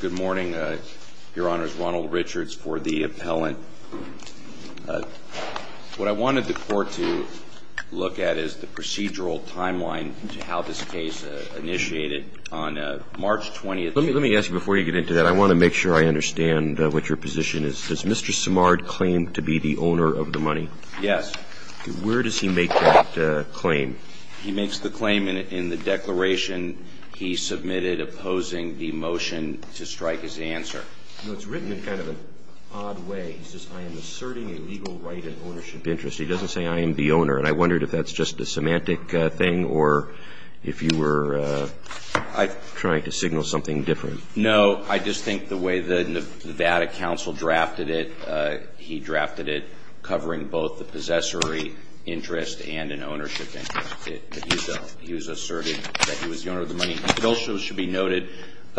Good morning, your honors. Ronald Richards for the appellant. What I wanted the court to look at is the procedural timeline to how this case initiated on March 20th. Let me ask you before you get into that, I want to make sure I understand what your position is. Does Mr. Simard claim to be the owner of the money? Yes. Where does he make that claim? He makes the claim in the declaration he submitted opposing the motion to strike his answer. No, it's written in kind of an odd way. He says, I am asserting a legal right and ownership interest. He doesn't say I am the owner. And I wondered if that's just a semantic thing or if you were trying to signal something different. No, I just think the way the Nevada counsel drafted it, he drafted it covering both the possessory interest and an ownership interest. He was asserting that he was the owner of the money. It also should be noted,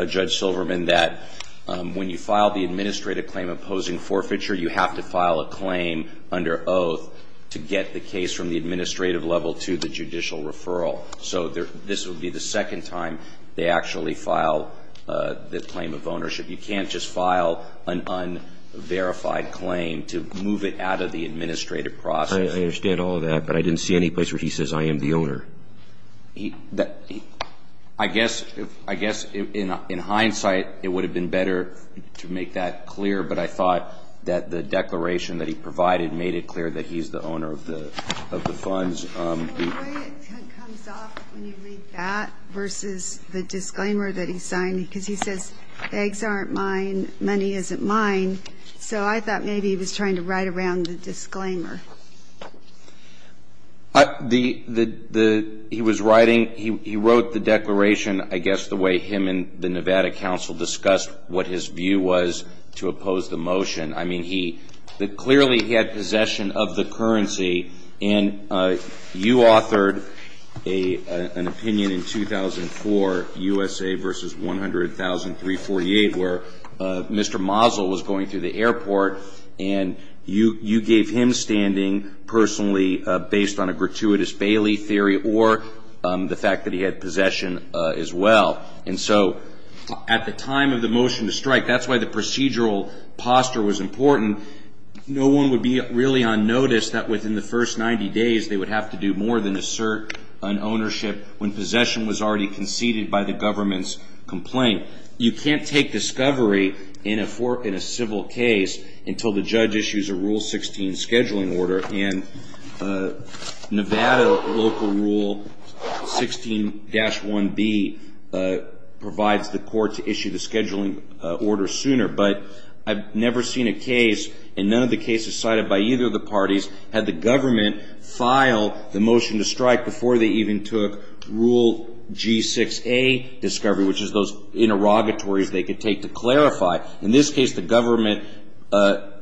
Judge Silverman, that when you file the administrative claim opposing forfeiture, you have to file a claim under oath to get the case from the administrative level to the judicial referral. So this would be the second time they actually file the claim of ownership. You can't just file an unverified claim to move it out of the administrative process. I understand all of that, but I didn't see any place where he says I am the owner. I guess in hindsight, it would have been better to make that clear, but I thought that the declaration that he provided made it clear that he's the owner of the funds. The way it comes off when you read that versus the disclaimer that he signed, because he says eggs aren't mine, money isn't mine. So I thought maybe he was trying to write around the disclaimer. He was writing he wrote the declaration, I guess, the way him and the Nevada counsel discussed what his view was to oppose the motion. I mean, he clearly had possession of the currency, and you authored an opinion in 2004, USA versus 100,348, where Mr. Mazel was going through the airport, and you gave him standing personally based on a gratuitous Bailey theory or the fact that he had possession as well. And so at the time of the motion to strike, that's why the procedural posture was important. No one would be really on notice that within the first 90 days they would have to do more than assert an ownership when possession was already conceded by the government's complaint. You can't take discovery in a civil case until the judge issues a Rule 16 scheduling order, and Nevada local Rule 16-1B provides the court to issue the scheduling order sooner. But I've never seen a case, and none of the cases cited by either of the parties, had the government file the motion to strike before they even took Rule G6A discovery, which is those interrogatories they could take to clarify. In this case, the government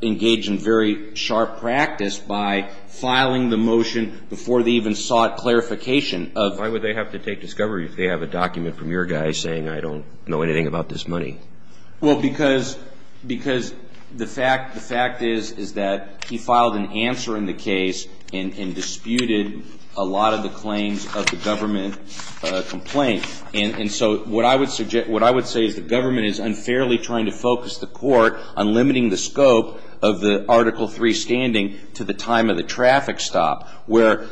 engaged in very sharp practice by filing the motion before they even sought clarification of... Why would they have to take discovery if they have a document from your guy saying, I don't know anything about this money? Well, because the fact is that he filed an answer in the case and disputed a lot of the claims of the government complaint. And so what I would say is the government is unfairly trying to focus the court on limiting the scope of the Article III standing to the time of the traffic stop, where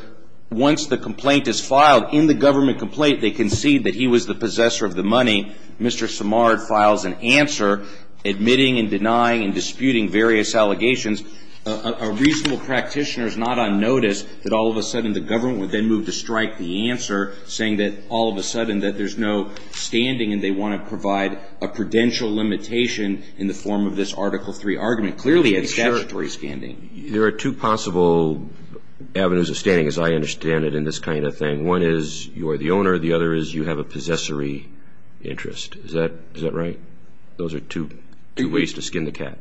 once the complaint is filed in the government complaint, they concede that he was the possessor of the money. Mr. Samard files an answer, admitting and denying and disputing various allegations. A reasonable practitioner is not on notice that all of a sudden the government would then move to strike the answer, saying that all of a sudden that there's no standing, and they want to provide a prudential limitation in the form of this Article III argument, clearly at statutory standing. There are two possible avenues of standing, as I understand it, in this kind of thing. One is you are the owner, the other is you have a possessory interest. Is that right? Those are two ways to skin the cat.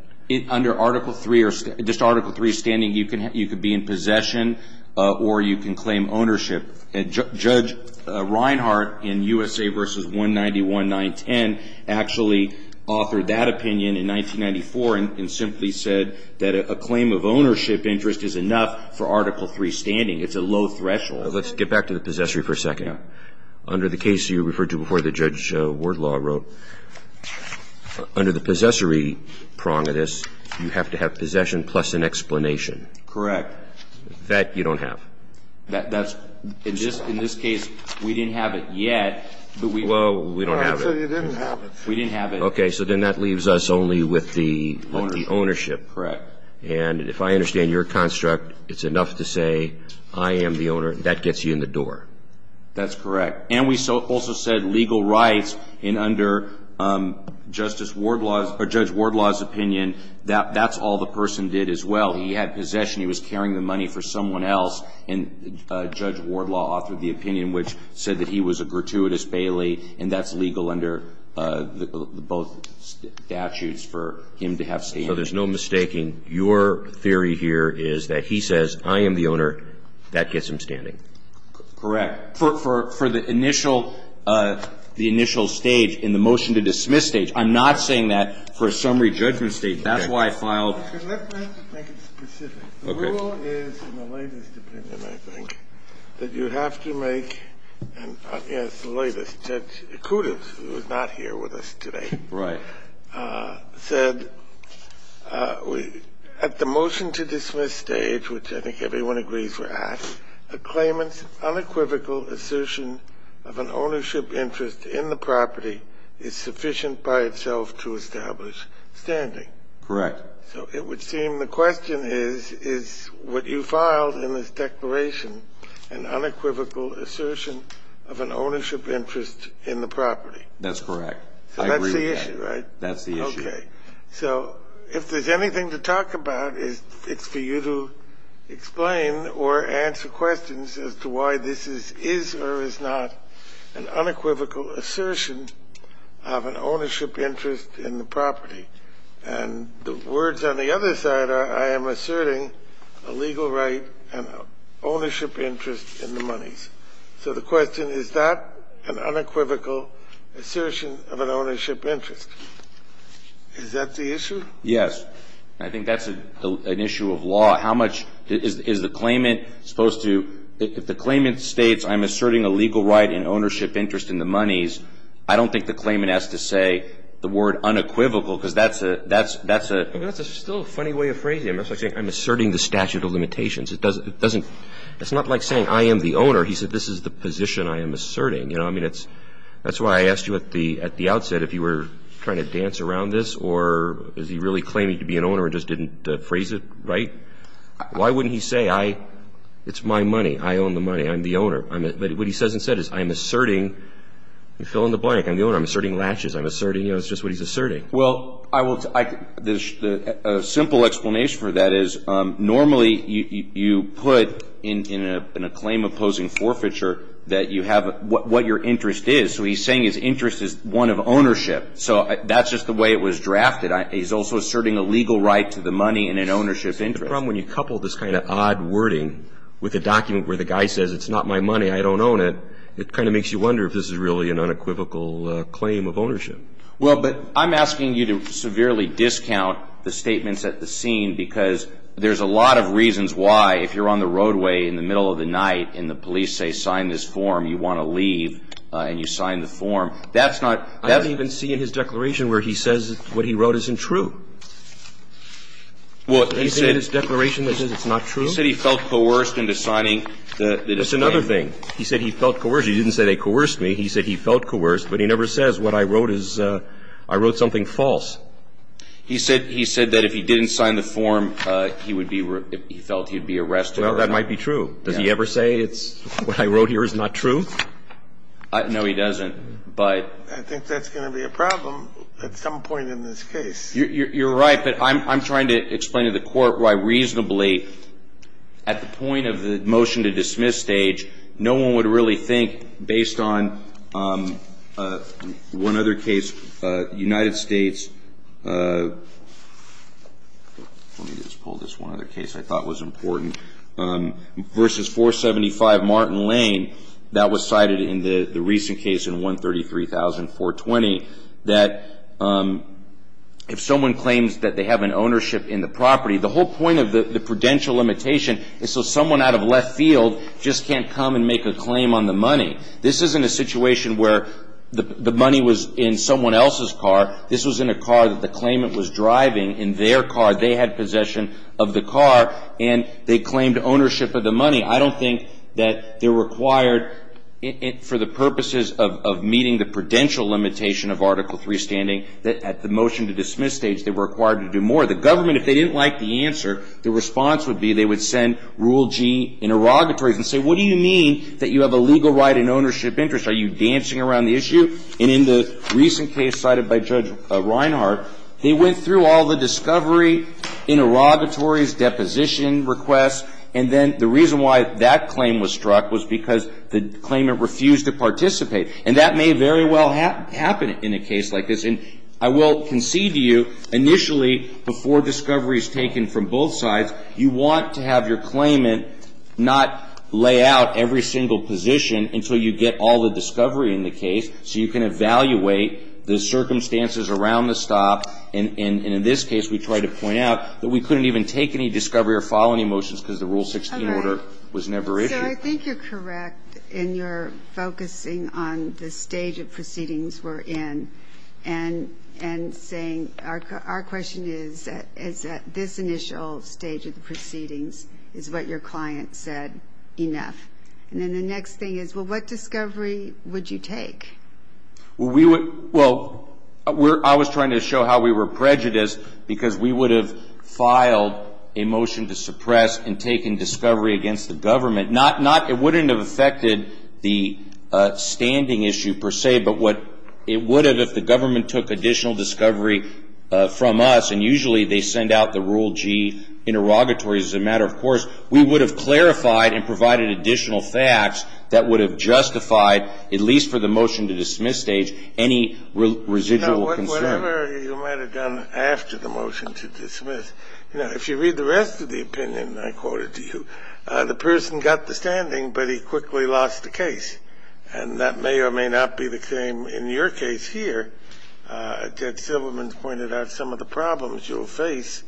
Under Article III or just Article III standing, you could be in possession or you can claim ownership. And Judge Reinhart in USA v. 191-910 actually authored that opinion in 1994 and simply said that a claim of ownership interest is enough for Article III standing. It's a low threshold. Let's get back to the possessory for a second. Yeah. Under the case you referred to before that Judge Wardlaw wrote, under the possessory prong of this, you have to have possession plus an explanation. Correct. That you don't have. In this case, we didn't have it yet. Well, we don't have it. We didn't have it. Okay. So then that leaves us only with the ownership. Correct. And if I understand your construct, it's enough to say I am the owner. That gets you in the door. That's correct. And we also said legal rights, and under Judge Wardlaw's opinion, that's all the person did as well. He had possession. He was carrying the money for someone else, and Judge Wardlaw authored the opinion, which said that he was a gratuitous bailee, and that's legal under both statutes for him to have standing. So there's no mistaking your theory here is that he says, I am the owner. That gets him standing. Correct. For the initial stage in the motion to dismiss stage, I'm not saying that for a summary judgment stage. That's why I filed. Let me make it specific. Okay. The rule is in the latest opinion, I think, that you have to make, and it's the latest, Judge Kudos, who is not here with us today. Right. Said at the motion to dismiss stage, which I think everyone agrees we're at, a claimant's unequivocal assertion of an ownership interest in the property is sufficient by itself to establish standing. Correct. So it would seem the question is, is what you filed in this declaration an unequivocal assertion of an ownership interest in the property? That's correct. I agree with that. So that's the issue, right? That's the issue. Okay. So if there's anything to talk about, it's for you to explain or answer questions as to why this is or is not an unequivocal assertion of an ownership interest in the property. And the words on the other side are, I am asserting a legal right and ownership interest in the monies. So the question, is that an unequivocal assertion of an ownership interest? Is that the issue? Yes. I think that's an issue of law. How much is the claimant supposed to – if the claimant states, I don't think the claimant has to say the word unequivocal because that's a – That's still a funny way of phrasing it. It's like saying, I'm asserting the statute of limitations. It doesn't – it's not like saying, I am the owner. He said, this is the position I am asserting. You know, I mean, that's why I asked you at the outset if you were trying to dance around this or is he really claiming to be an owner and just didn't phrase it right? Why wouldn't he say, I – it's my money. I own the money. I'm the owner. But what he says instead is, I am asserting – fill in the blank. I'm the owner. I'm asserting latches. I'm asserting – it's just what he's asserting. Well, I will – a simple explanation for that is normally you put in a claim opposing forfeiture that you have – what your interest is. So he's saying his interest is one of ownership. So that's just the way it was drafted. He's also asserting a legal right to the money and an ownership interest. The problem when you couple this kind of odd wording with a document where the guy says, it's not my money, I don't own it, it kind of makes you wonder if this is really an unequivocal claim of ownership. Well, but I'm asking you to severely discount the statements at the scene because there's a lot of reasons why if you're on the roadway in the middle of the night and the police say sign this form, you want to leave and you sign the form. That's not – I don't even see in his declaration where he says what he wrote isn't true. Well, he said – Anything in his declaration that says it's not true? He said he felt coerced into signing the disclaimer. That's another thing. He said he felt coerced. He didn't say they coerced me. He said he felt coerced, but he never says what I wrote is – I wrote something false. He said – he said that if he didn't sign the form, he would be – he felt he would be arrested or something. Well, that might be true. Does he ever say it's – what I wrote here is not true? No, he doesn't, but – I think that's going to be a problem at some point in this case. You're right, but I'm trying to explain to the court why reasonably, at the point of the motion to dismiss stage, no one would really think, based on one other case, United States – let me just pull this one other case I thought was important – versus 475 Martin Lane, that was cited in the recent case in 133,420, that if someone claims that they have an ownership in the property, the whole point of the prudential limitation is so someone out of left field just can't come and make a claim on the money. This isn't a situation where the money was in someone else's car. This was in a car that the claimant was driving in their car. They had possession of the car, and they claimed ownership of the money. I don't think that they're required for the purposes of meeting the prudential limitation of Article III standing that at the motion to dismiss stage they were required to do more. The government, if they didn't like the answer, the response would be they would send Rule G interrogatories and say, what do you mean that you have a legal right and ownership interest? Are you dancing around the issue? And in the recent case cited by Judge Reinhart, they went through all the discovery interrogatories, deposition requests, and then the reason why that claim was struck was because the claimant refused to participate. And that may very well happen in a case like this. And I will concede to you, initially, before discovery is taken from both sides, you want to have your claimant not lay out every single position until you get all the discovery in the case so you can evaluate the circumstances around the stop. And in this case, we tried to point out that we couldn't even take any discovery or file any motions because the Rule 16 order was never issued. So I think you're correct in your focusing on the stage of proceedings we're in and saying our question is that this initial stage of the proceedings is what your client said enough. And then the next thing is, well, what discovery would you take? Well, I was trying to show how we were prejudiced because we would have filed a motion to suppress in taking discovery against the government. It wouldn't have affected the standing issue per se, but what it would have if the government took additional discovery from us, and usually they send out the Rule G interrogatories as a matter of course, we would have clarified and provided additional facts that would have justified, at least for the motion to dismiss stage, any residual concern. Well, whatever you might have done after the motion to dismiss, you know, if you read the rest of the opinion I quoted to you, the person got the standing, but he quickly lost the case. And that may or may not be the same in your case here. Judge Silverman pointed out some of the problems you'll face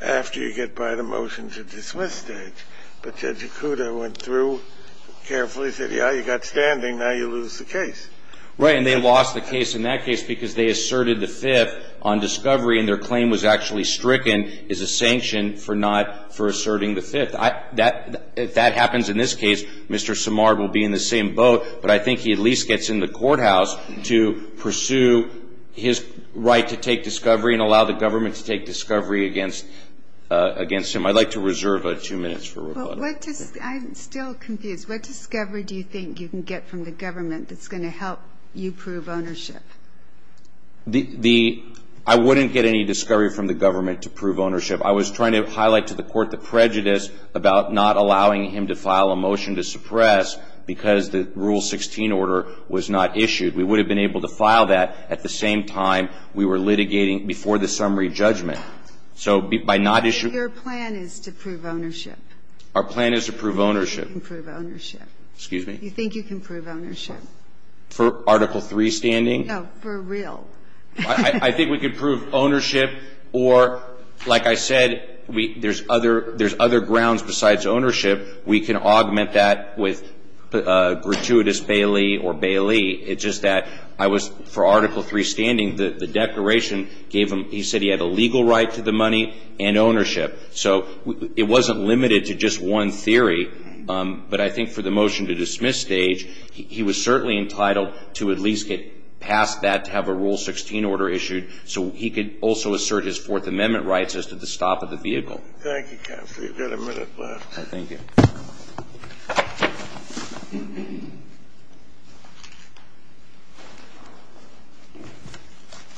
after you get by the motion to dismiss stage. But Judge Ikuda went through carefully, said, yeah, you got standing, now you lose the case. Right, and they lost the case in that case because they asserted the fifth on discovery and their claim was actually stricken as a sanction for asserting the fifth. If that happens in this case, Mr. Samard will be in the same boat, but I think he at least gets in the courthouse to pursue his right to take discovery and allow the government to take discovery against him. I'd like to reserve two minutes for rebuttal. I'm still confused. What discovery do you think you can get from the government that's going to help you prove ownership? The – I wouldn't get any discovery from the government to prove ownership. I was trying to highlight to the Court the prejudice about not allowing him to file a motion to suppress because the Rule 16 order was not issued. We would have been able to file that at the same time we were litigating before the summary judgment. So by not issuing – Your plan is to prove ownership. Our plan is to prove ownership. You think you can prove ownership. Excuse me? You think you can prove ownership. For Article III standing? No, for real. I think we can prove ownership or, like I said, there's other grounds besides ownership. We can augment that with gratuitous bailee or bailee. It's just that I was – for Article III standing, the declaration gave him – he said he had a legal right to the money and ownership. So it wasn't limited to just one theory, but I think for the motion to dismiss Stage, he was certainly entitled to at least get past that to have a Rule 16 order issued so he could also assert his Fourth Amendment rights as to the stop of the vehicle. Thank you, Counselor. You've got a minute left. Thank you.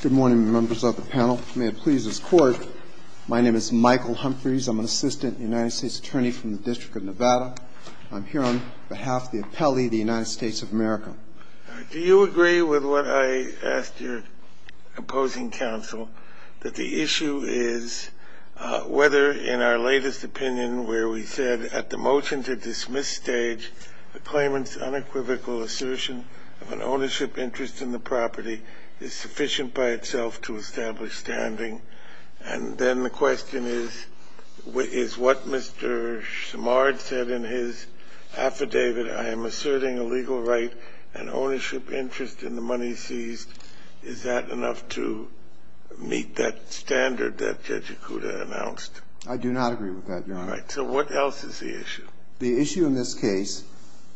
Good morning, members of the panel. May it please this Court. My name is Michael Humphreys. I'm an assistant United States attorney from the District of Nevada. I'm here on behalf of the appellee of the United States of America. Do you agree with what I asked your opposing counsel, that the issue is whether in our latest opinion where we said at the motion to dismiss Stage, the claimant's unequivocal assertion of an ownership interest in the property is sufficient by itself to establish standing? And then the question is, is what Mr. Simard said in his affidavit, I am asserting a legal right and ownership interest in the money seized, is that enough to meet that standard that Judge Ikuda announced? I do not agree with that, Your Honor. All right. So what else is the issue? The issue in this case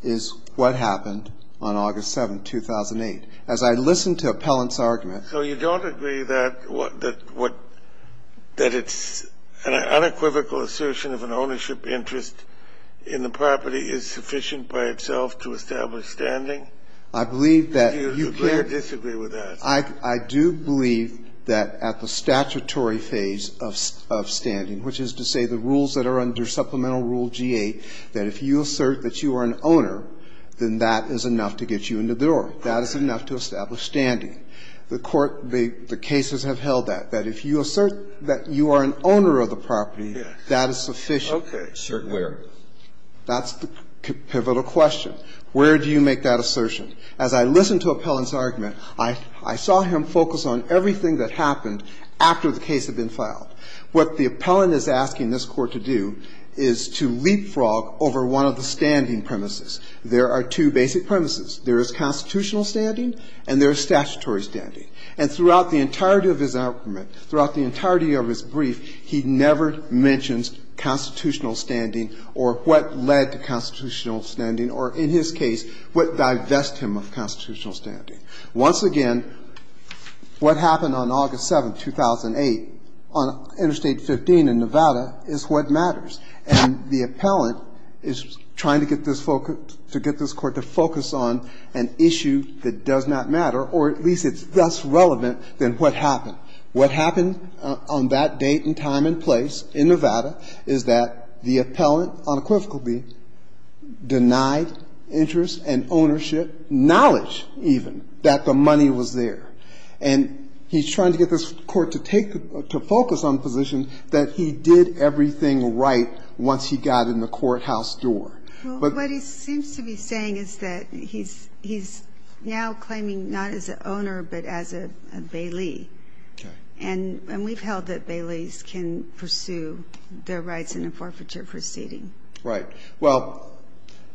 is what happened on August 7, 2008. As I listened to Appellant's argument So you don't agree that it's an unequivocal assertion of an ownership interest in the property is sufficient by itself to establish standing? I believe that you can't Do you agree or disagree with that? I do believe that at the statutory phase of standing, which is to say the rules that are under Supplemental Rule G-8, that if you assert that you are an owner, then that is enough to get you into the door. That is enough to establish standing. The Court, the cases have held that, that if you assert that you are an owner of the property, that is sufficient. Okay. Sure. Where? That's the pivotal question. Where do you make that assertion? As I listened to Appellant's argument, I saw him focus on everything that happened after the case had been filed. What the Appellant is asking this Court to do is to leapfrog over one of the standing premises. There are two basic premises. There is constitutional standing and there is statutory standing. And throughout the entirety of his argument, throughout the entirety of his brief, he never mentions constitutional standing or what led to constitutional standing or, in his case, what divest him of constitutional standing. Once again, what happened on August 7, 2008 on Interstate 15 in Nevada is what matters. And the Appellant is trying to get this Court to focus on an issue that does not matter or at least it's less relevant than what happened. What happened on that date and time and place in Nevada is that the Appellant unequivocally denied interest and ownership, knowledge even, that the money was there. And he's trying to get this Court to take, to focus on the position that he did everything right once he got in the courthouse door. But what he seems to be saying is that he's now claiming not as an owner but as a bailee. Okay. And we've held that bailees can pursue their rights in a forfeiture proceeding. Right. Well,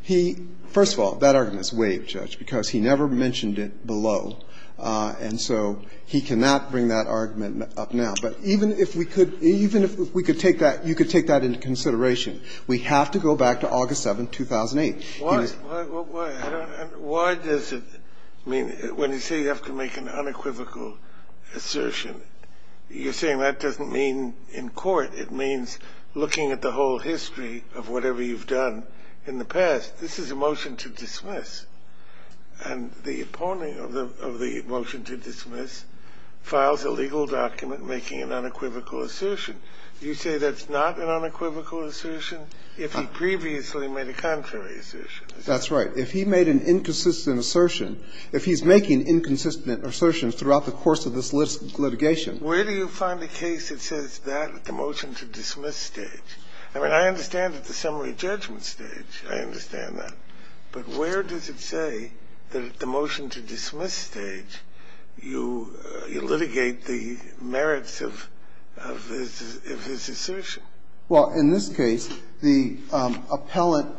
he, first of all, that argument is waived, Judge, because he never mentioned it below. And so he cannot bring that argument up now. But even if we could, even if we could take that, you could take that into consideration, we have to go back to August 7, 2008. Why does it mean, when you say you have to make an unequivocal assertion, you're saying that doesn't mean in court. It means looking at the whole history of whatever you've done in the past. This is a motion to dismiss. And the opponent of the motion to dismiss files a legal document making an unequivocal assertion. You say that's not an unequivocal assertion if he previously made a contrary assertion. That's right. If he made an inconsistent assertion, if he's making inconsistent assertions throughout the course of this litigation. Where do you find a case that says that at the motion to dismiss stage? I mean, I understand at the summary judgment stage. I understand that. But where does it say that at the motion to dismiss stage, you litigate the merits of his assertion? Well, in this case, the appellant,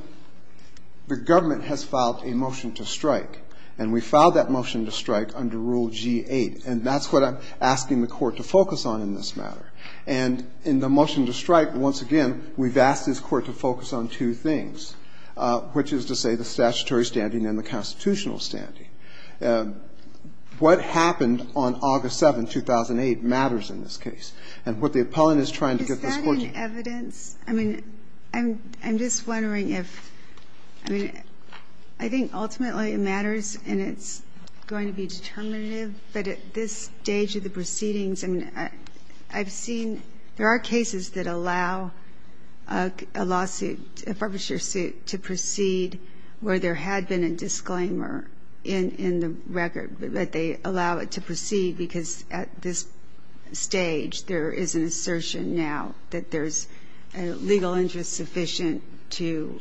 the government has filed a motion to strike. And we filed that motion to strike under Rule G-8. And that's what I'm asking the Court to focus on in this matter. And in the motion to strike, once again, we've asked this Court to focus on two things, which is to say the statutory standing and the constitutional standing. What happened on August 7, 2008 matters in this case. And what the appellant is trying to get this Court to do. Is that in evidence? I mean, I'm just wondering if – I mean, I think ultimately it matters and it's going to be determinative. But at this stage of the proceedings, I mean, I've seen – there are cases that I've seen where they allow it to proceed where there had been a disclaimer in the record, but they allow it to proceed because at this stage there is an assertion now that there's a legal interest sufficient to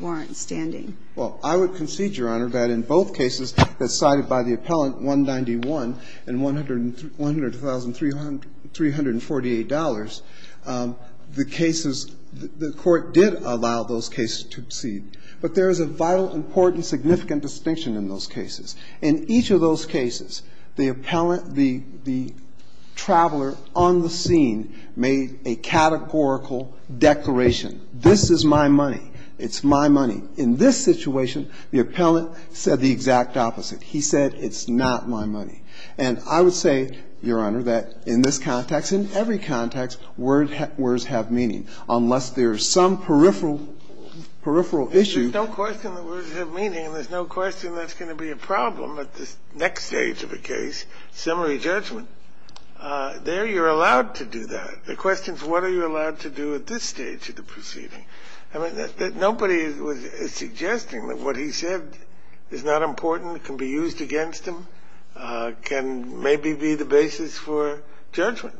warrant standing. Well, I would concede, Your Honor, that in both cases that's cited by the appellant, 191 and $100,348, the cases – the Court did allow those cases to proceed. But there is a vital, important, significant distinction in those cases. In each of those cases, the appellant, the traveler on the scene made a categorical declaration. This is my money. It's my money. In this situation, the appellant said the exact opposite. He said it's not my money. And I would say, Your Honor, that in this context, in every context, words have meaning. Unless there's some peripheral – peripheral issue. There's no question that words have meaning and there's no question that's going to be a problem at this next stage of a case, summary judgment. There you're allowed to do that. The question is what are you allowed to do at this stage of the proceeding? I mean, nobody was suggesting that what he said is not important, can be used against him, can maybe be the basis for judgment.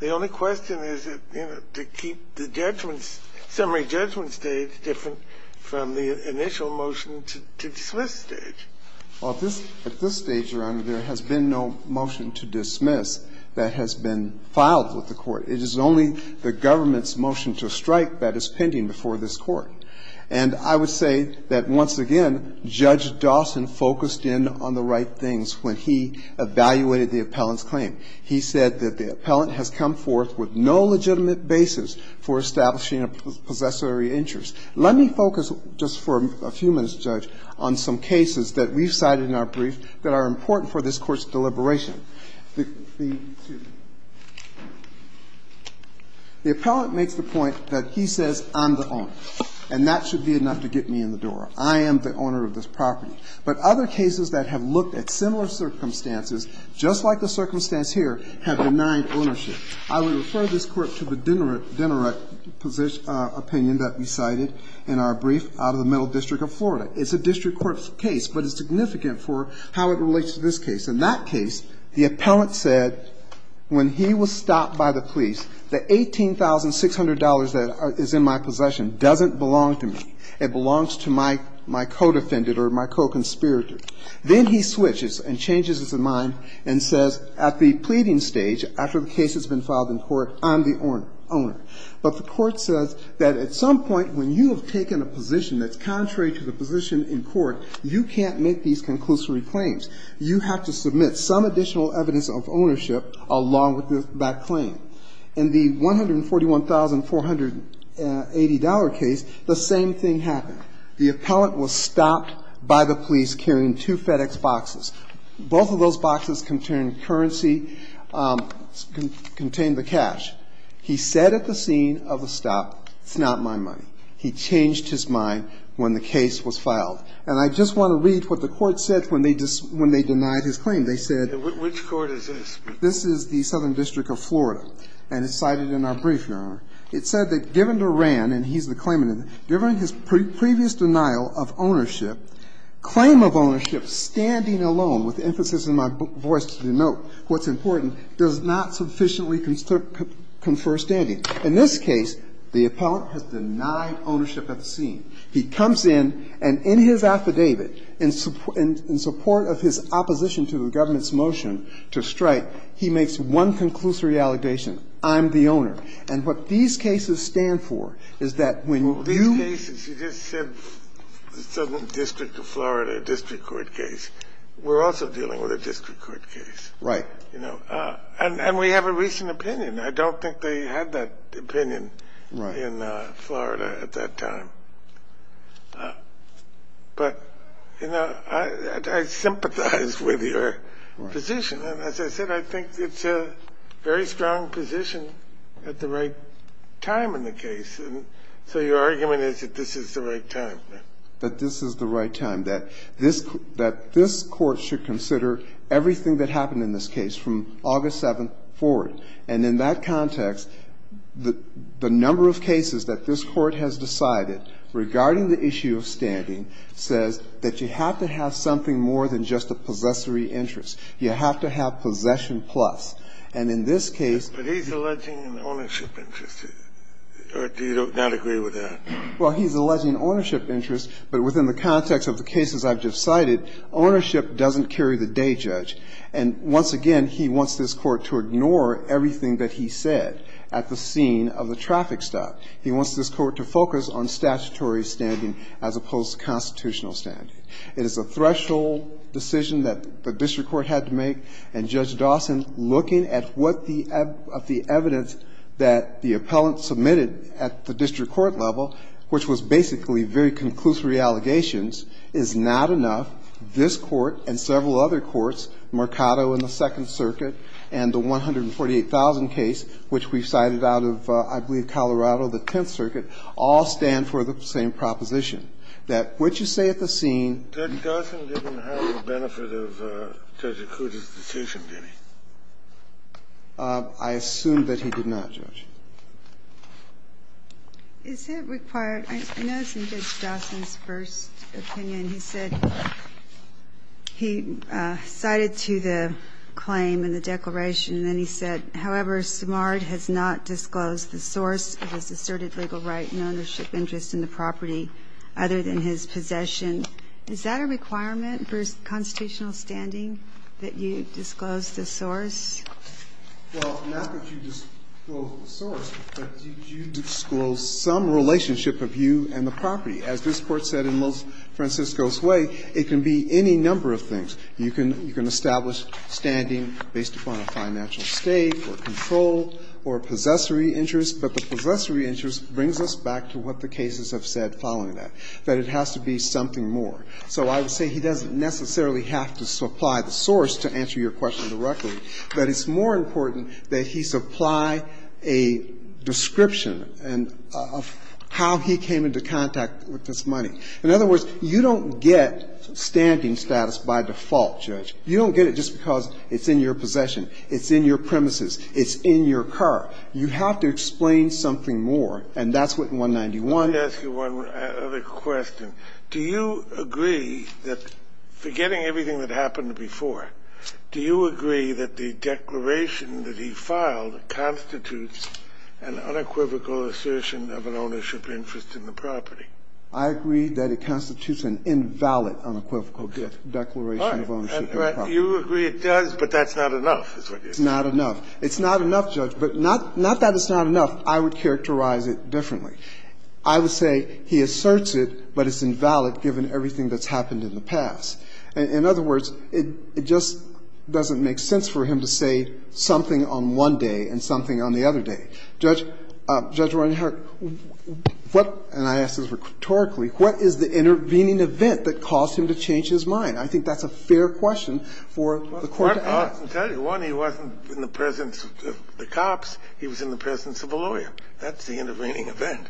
The only question is, you know, to keep the judgment – summary judgment stage different from the initial motion to dismiss stage. Well, at this stage, Your Honor, there has been no motion to dismiss that has been filed with the Court. It is only the government's motion to strike that is pending before this Court. And I would say that, once again, Judge Dawson focused in on the right things when he evaluated the appellant's claim. He said that the appellant has come forth with no legitimate basis for establishing a possessory interest. Let me focus just for a few minutes, Judge, on some cases that we've cited in our brief that are important for this Court's deliberation. The appellant makes the point that he says, I'm the owner, and that should be enough to get me in the door. I am the owner of this property. But other cases that have looked at similar circumstances, just like the circumstance here, have denied ownership. I would refer this Court to the Dinneret opinion that we cited in our brief out of the Middle District of Florida. It's a district court case, but it's significant for how it relates to this case. In that case, the appellant said, when he was stopped by the police, the $18,600 that is in my possession doesn't belong to me. It belongs to my co-defendant or my co-conspirator. Then he switches and changes his mind and says at the pleading stage, after the case has been filed in court, I'm the owner. But the Court says that at some point when you have taken a position that's contrary to the position in court, you can't make these conclusory claims. You have to submit some additional evidence of ownership along with that claim. In the $141,480 case, the same thing happened. The appellant was stopped by the police carrying two FedEx boxes. Both of those boxes contained currency, contained the cash. He said at the scene of the stop, it's not my money. He changed his mind when the case was filed. And I just want to read what the Court said when they denied his claim. They said, which Court is this? This is the Southern District of Florida, and it's cited in our brief, Your Honor. It said that given Durand, and he's the claimant, given his previous denial of ownership, claim of ownership standing alone, with emphasis in my voice to denote what's important, does not sufficiently confer standing. In this case, the appellant has denied ownership at the scene. He comes in, and in his affidavit, in support of his opposition to the government's motion to strike, he makes one conclusory allegation, I'm the owner. And what these cases stand for is that when you ---- Kennedy, you just said the Southern District of Florida district court case. We're also dealing with a district court case. Right. You know. And we have a recent opinion. I don't think they had that opinion in Florida at that time. But, you know, I sympathize with your position. And as I said, I think it's a very strong position at the right time in the case. And so your argument is that this is the right time. But this is the right time, that this Court should consider everything that happened in this case from August 7th forward. And in that context, the number of cases that this Court has decided regarding the issue of standing says that you have to have something more than just a possessory interest. You have to have possession plus. And in this case ---- But he's alleging an ownership interest. Or do you not agree with that? Well, he's alleging ownership interest, but within the context of the cases I've just cited, ownership doesn't carry the day, Judge. And once again, he wants this Court to ignore everything that he said at the scene of the traffic stop. He wants this Court to focus on statutory standing as opposed to constitutional standing. It is a threshold decision that the district court had to make. And, Judge Dawson, looking at what the evidence that the appellant submitted at the district court level, which was basically very conclusory allegations, is not enough. This Court and several other courts, Mercado in the Second Circuit and the 148,000 case, which we cited out of, I believe, Colorado, the Tenth Circuit, all stand for the same proposition, that what you say at the scene ---- Judge Dawson didn't have the benefit of Judge Acuta's decision, did he? I assume that he did not, Judge. Is it required? I know it's in Judge Dawson's first opinion. He said he cited to the claim in the declaration, and then he said, however, Samard has not disclosed the source of his asserted legal right and ownership interest in the property other than his possession. Is that a requirement for constitutional standing, that you disclose the source? Well, not that you disclose the source, but you disclose some relationship of you and the property. As this Court said in Los Francisco's way, it can be any number of things. You can establish standing based upon a financial stake or control or possessory interest, but the possessory interest brings us back to what the cases have said following that, that it has to be something more. So I would say he doesn't necessarily have to supply the source to answer your question directly, but it's more important that he supply a description of how he came into contact with this money. In other words, you don't get standing status by default, Judge. You don't get it just because it's in your possession, it's in your premises, it's in your car. You have to explain something more, and that's what 191. Let me ask you one other question. Do you agree that, forgetting everything that happened before, do you agree that the declaration that he filed constitutes an unequivocal assertion of an ownership interest in the property? I agree that it constitutes an invalid unequivocal declaration of ownership in the property. All right. You agree it does, but that's not enough, is what you're saying. It's not enough. It's not enough, Judge, but not that it's not enough. I would characterize it differently. I would say he asserts it, but it's invalid, given everything that's happened in the past. In other words, it just doesn't make sense for him to say something on one day and something on the other day. Judge, Judge Reinhart, what – and I ask this rhetorically – what is the intervening event that caused him to change his mind? I think that's a fair question for the Court to ask. I can tell you. One, he wasn't in the presence of the cops. He was in the presence of a lawyer. That's the intervening event.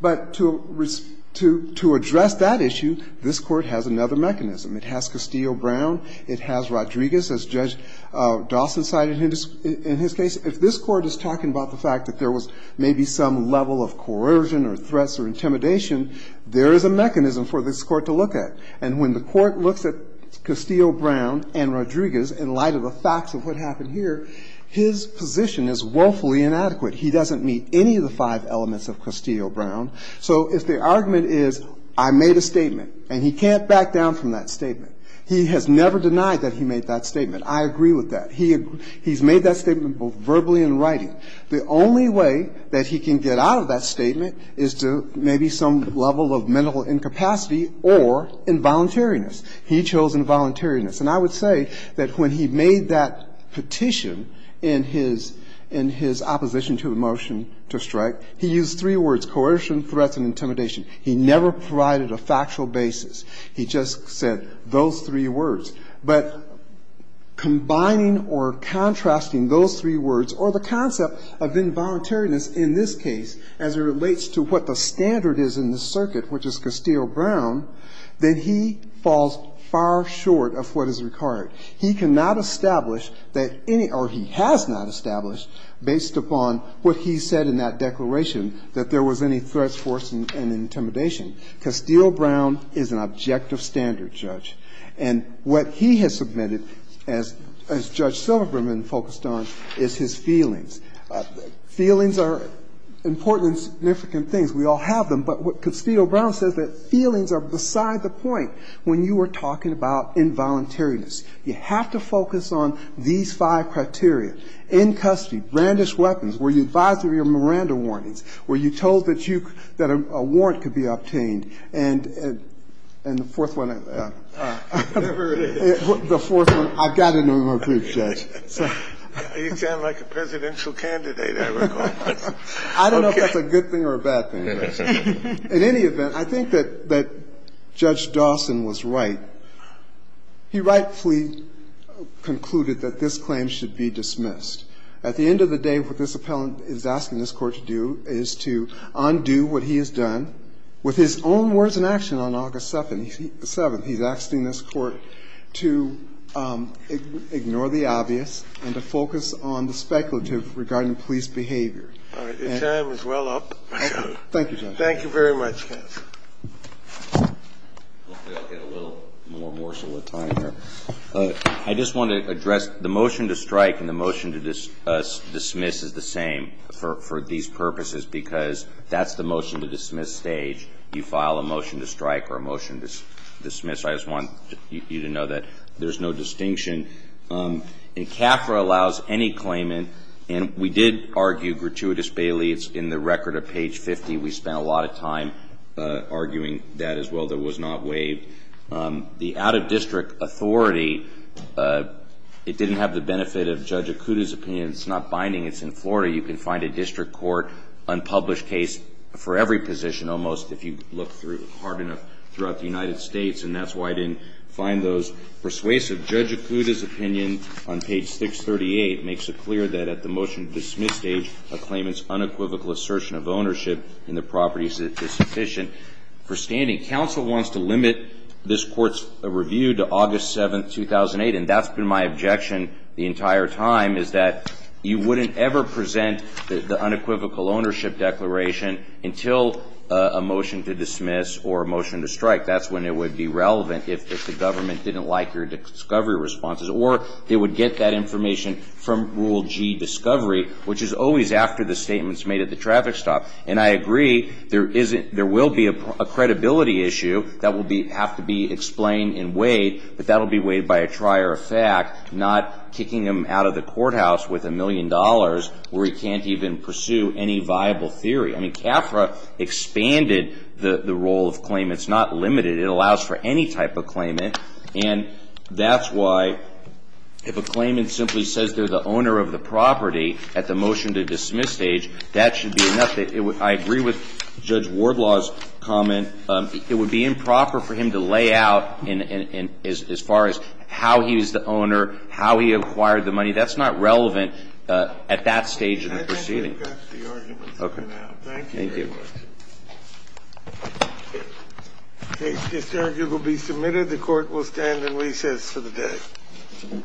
But to address that issue, this Court has another mechanism. It has Castillo-Brown. It has Rodriguez, as Judge Dawson cited in his case. If this Court is talking about the fact that there was maybe some level of coercion or threats or intimidation, there is a mechanism for this Court to look at. And when the Court looks at Castillo-Brown and Rodriguez in light of the facts of what happened here, his position is woefully inadequate. He doesn't meet any of the five elements of Castillo-Brown. So if the argument is I made a statement, and he can't back down from that statement, he has never denied that he made that statement. I agree with that. He's made that statement both verbally and in writing. The only way that he can get out of that statement is to maybe some level of mental incapacity or involuntariness. He chose involuntariness. And I would say that when he made that petition in his opposition to the motion to strike, he used three words, coercion, threats, and intimidation. He never provided a factual basis. He just said those three words. But combining or contrasting those three words or the concept of involuntariness in this case as it relates to what the standard is in the circuit, which is Castillo-Brown, that he falls far short of what is required. He cannot establish that any or he has not established, based upon what he said in that declaration, that there was any threats, coercion, and intimidation. Castillo-Brown is an objective standard judge. And what he has submitted, as Judge Silverberman focused on, is his feelings. Feelings are important and significant things. We all have them. But Castillo-Brown says that feelings are beside the point when you are talking about involuntariness. You have to focus on these five criteria. In custody, brandish weapons. Were you advised of your Miranda warnings? Were you told that a warrant could be obtained? And the fourth one, I've got to know who to judge. Scalia. You sound like a presidential candidate, I recall. I don't know if that's a good thing or a bad thing. In any event, I think that Judge Dawson was right. He rightfully concluded that this claim should be dismissed. At the end of the day, what this appellant is asking this Court to do is to undo what he has done with his own words and action on August 7th. He's asking this Court to ignore the obvious and to focus on the speculative regarding police behavior. All right. Your time is well up. Thank you, Your Honor. Thank you very much, counsel. Hopefully I'll get a little more morsel of time here. I just want to address the motion to strike and the motion to dismiss is the same for these purposes because that's the motion to dismiss stage. You file a motion to strike or a motion to dismiss. I just want you to know that there's no distinction. CAFRA allows any claimant, and we did argue gratuitous bailie. It's in the record of page 50. We spent a lot of time arguing that as well. That was not waived. The out-of-district authority, it didn't have the benefit of Judge Acuda's opinion. It's not binding. It's in Florida. You can find a district court unpublished case for every position almost if you look hard enough throughout the United States, and that's why I didn't find those persuasive. Judge Acuda's opinion on page 638 makes it clear that at the motion to dismiss stage, a claimant's unequivocal assertion of ownership in the properties is sufficient for standing. Counsel wants to limit this court's review to August 7, 2008, and that's been my objection the entire time is that you wouldn't ever present the unequivocal ownership declaration until a motion to dismiss or a motion to strike. That's when it would be relevant if the government didn't like your discovery responses, or they would get that information from Rule G discovery, which is always after the statements made at the traffic stop. And I agree there will be a credibility issue that will have to be explained and weighed, but that will be weighed by a trier of fact, not kicking him out of the courthouse with a million dollars where he can't even pursue any viable theory. I mean, CAFRA expanded the role of claimants, not limited. It allows for any type of claimant, and that's why if a claimant simply says they're the owner of the property at the motion to dismiss stage, that should be enough. I agree with Judge Wardlaw's comment. It would be improper for him to lay out as far as how he was the owner, how he acquired the money. That's not relevant at that stage in the proceeding. That's the argument for now. Okay. Thank you very much. Thank you. Okay. This argument will be submitted. The Court will stand in recess for the day. All rise. We'll stand in recess.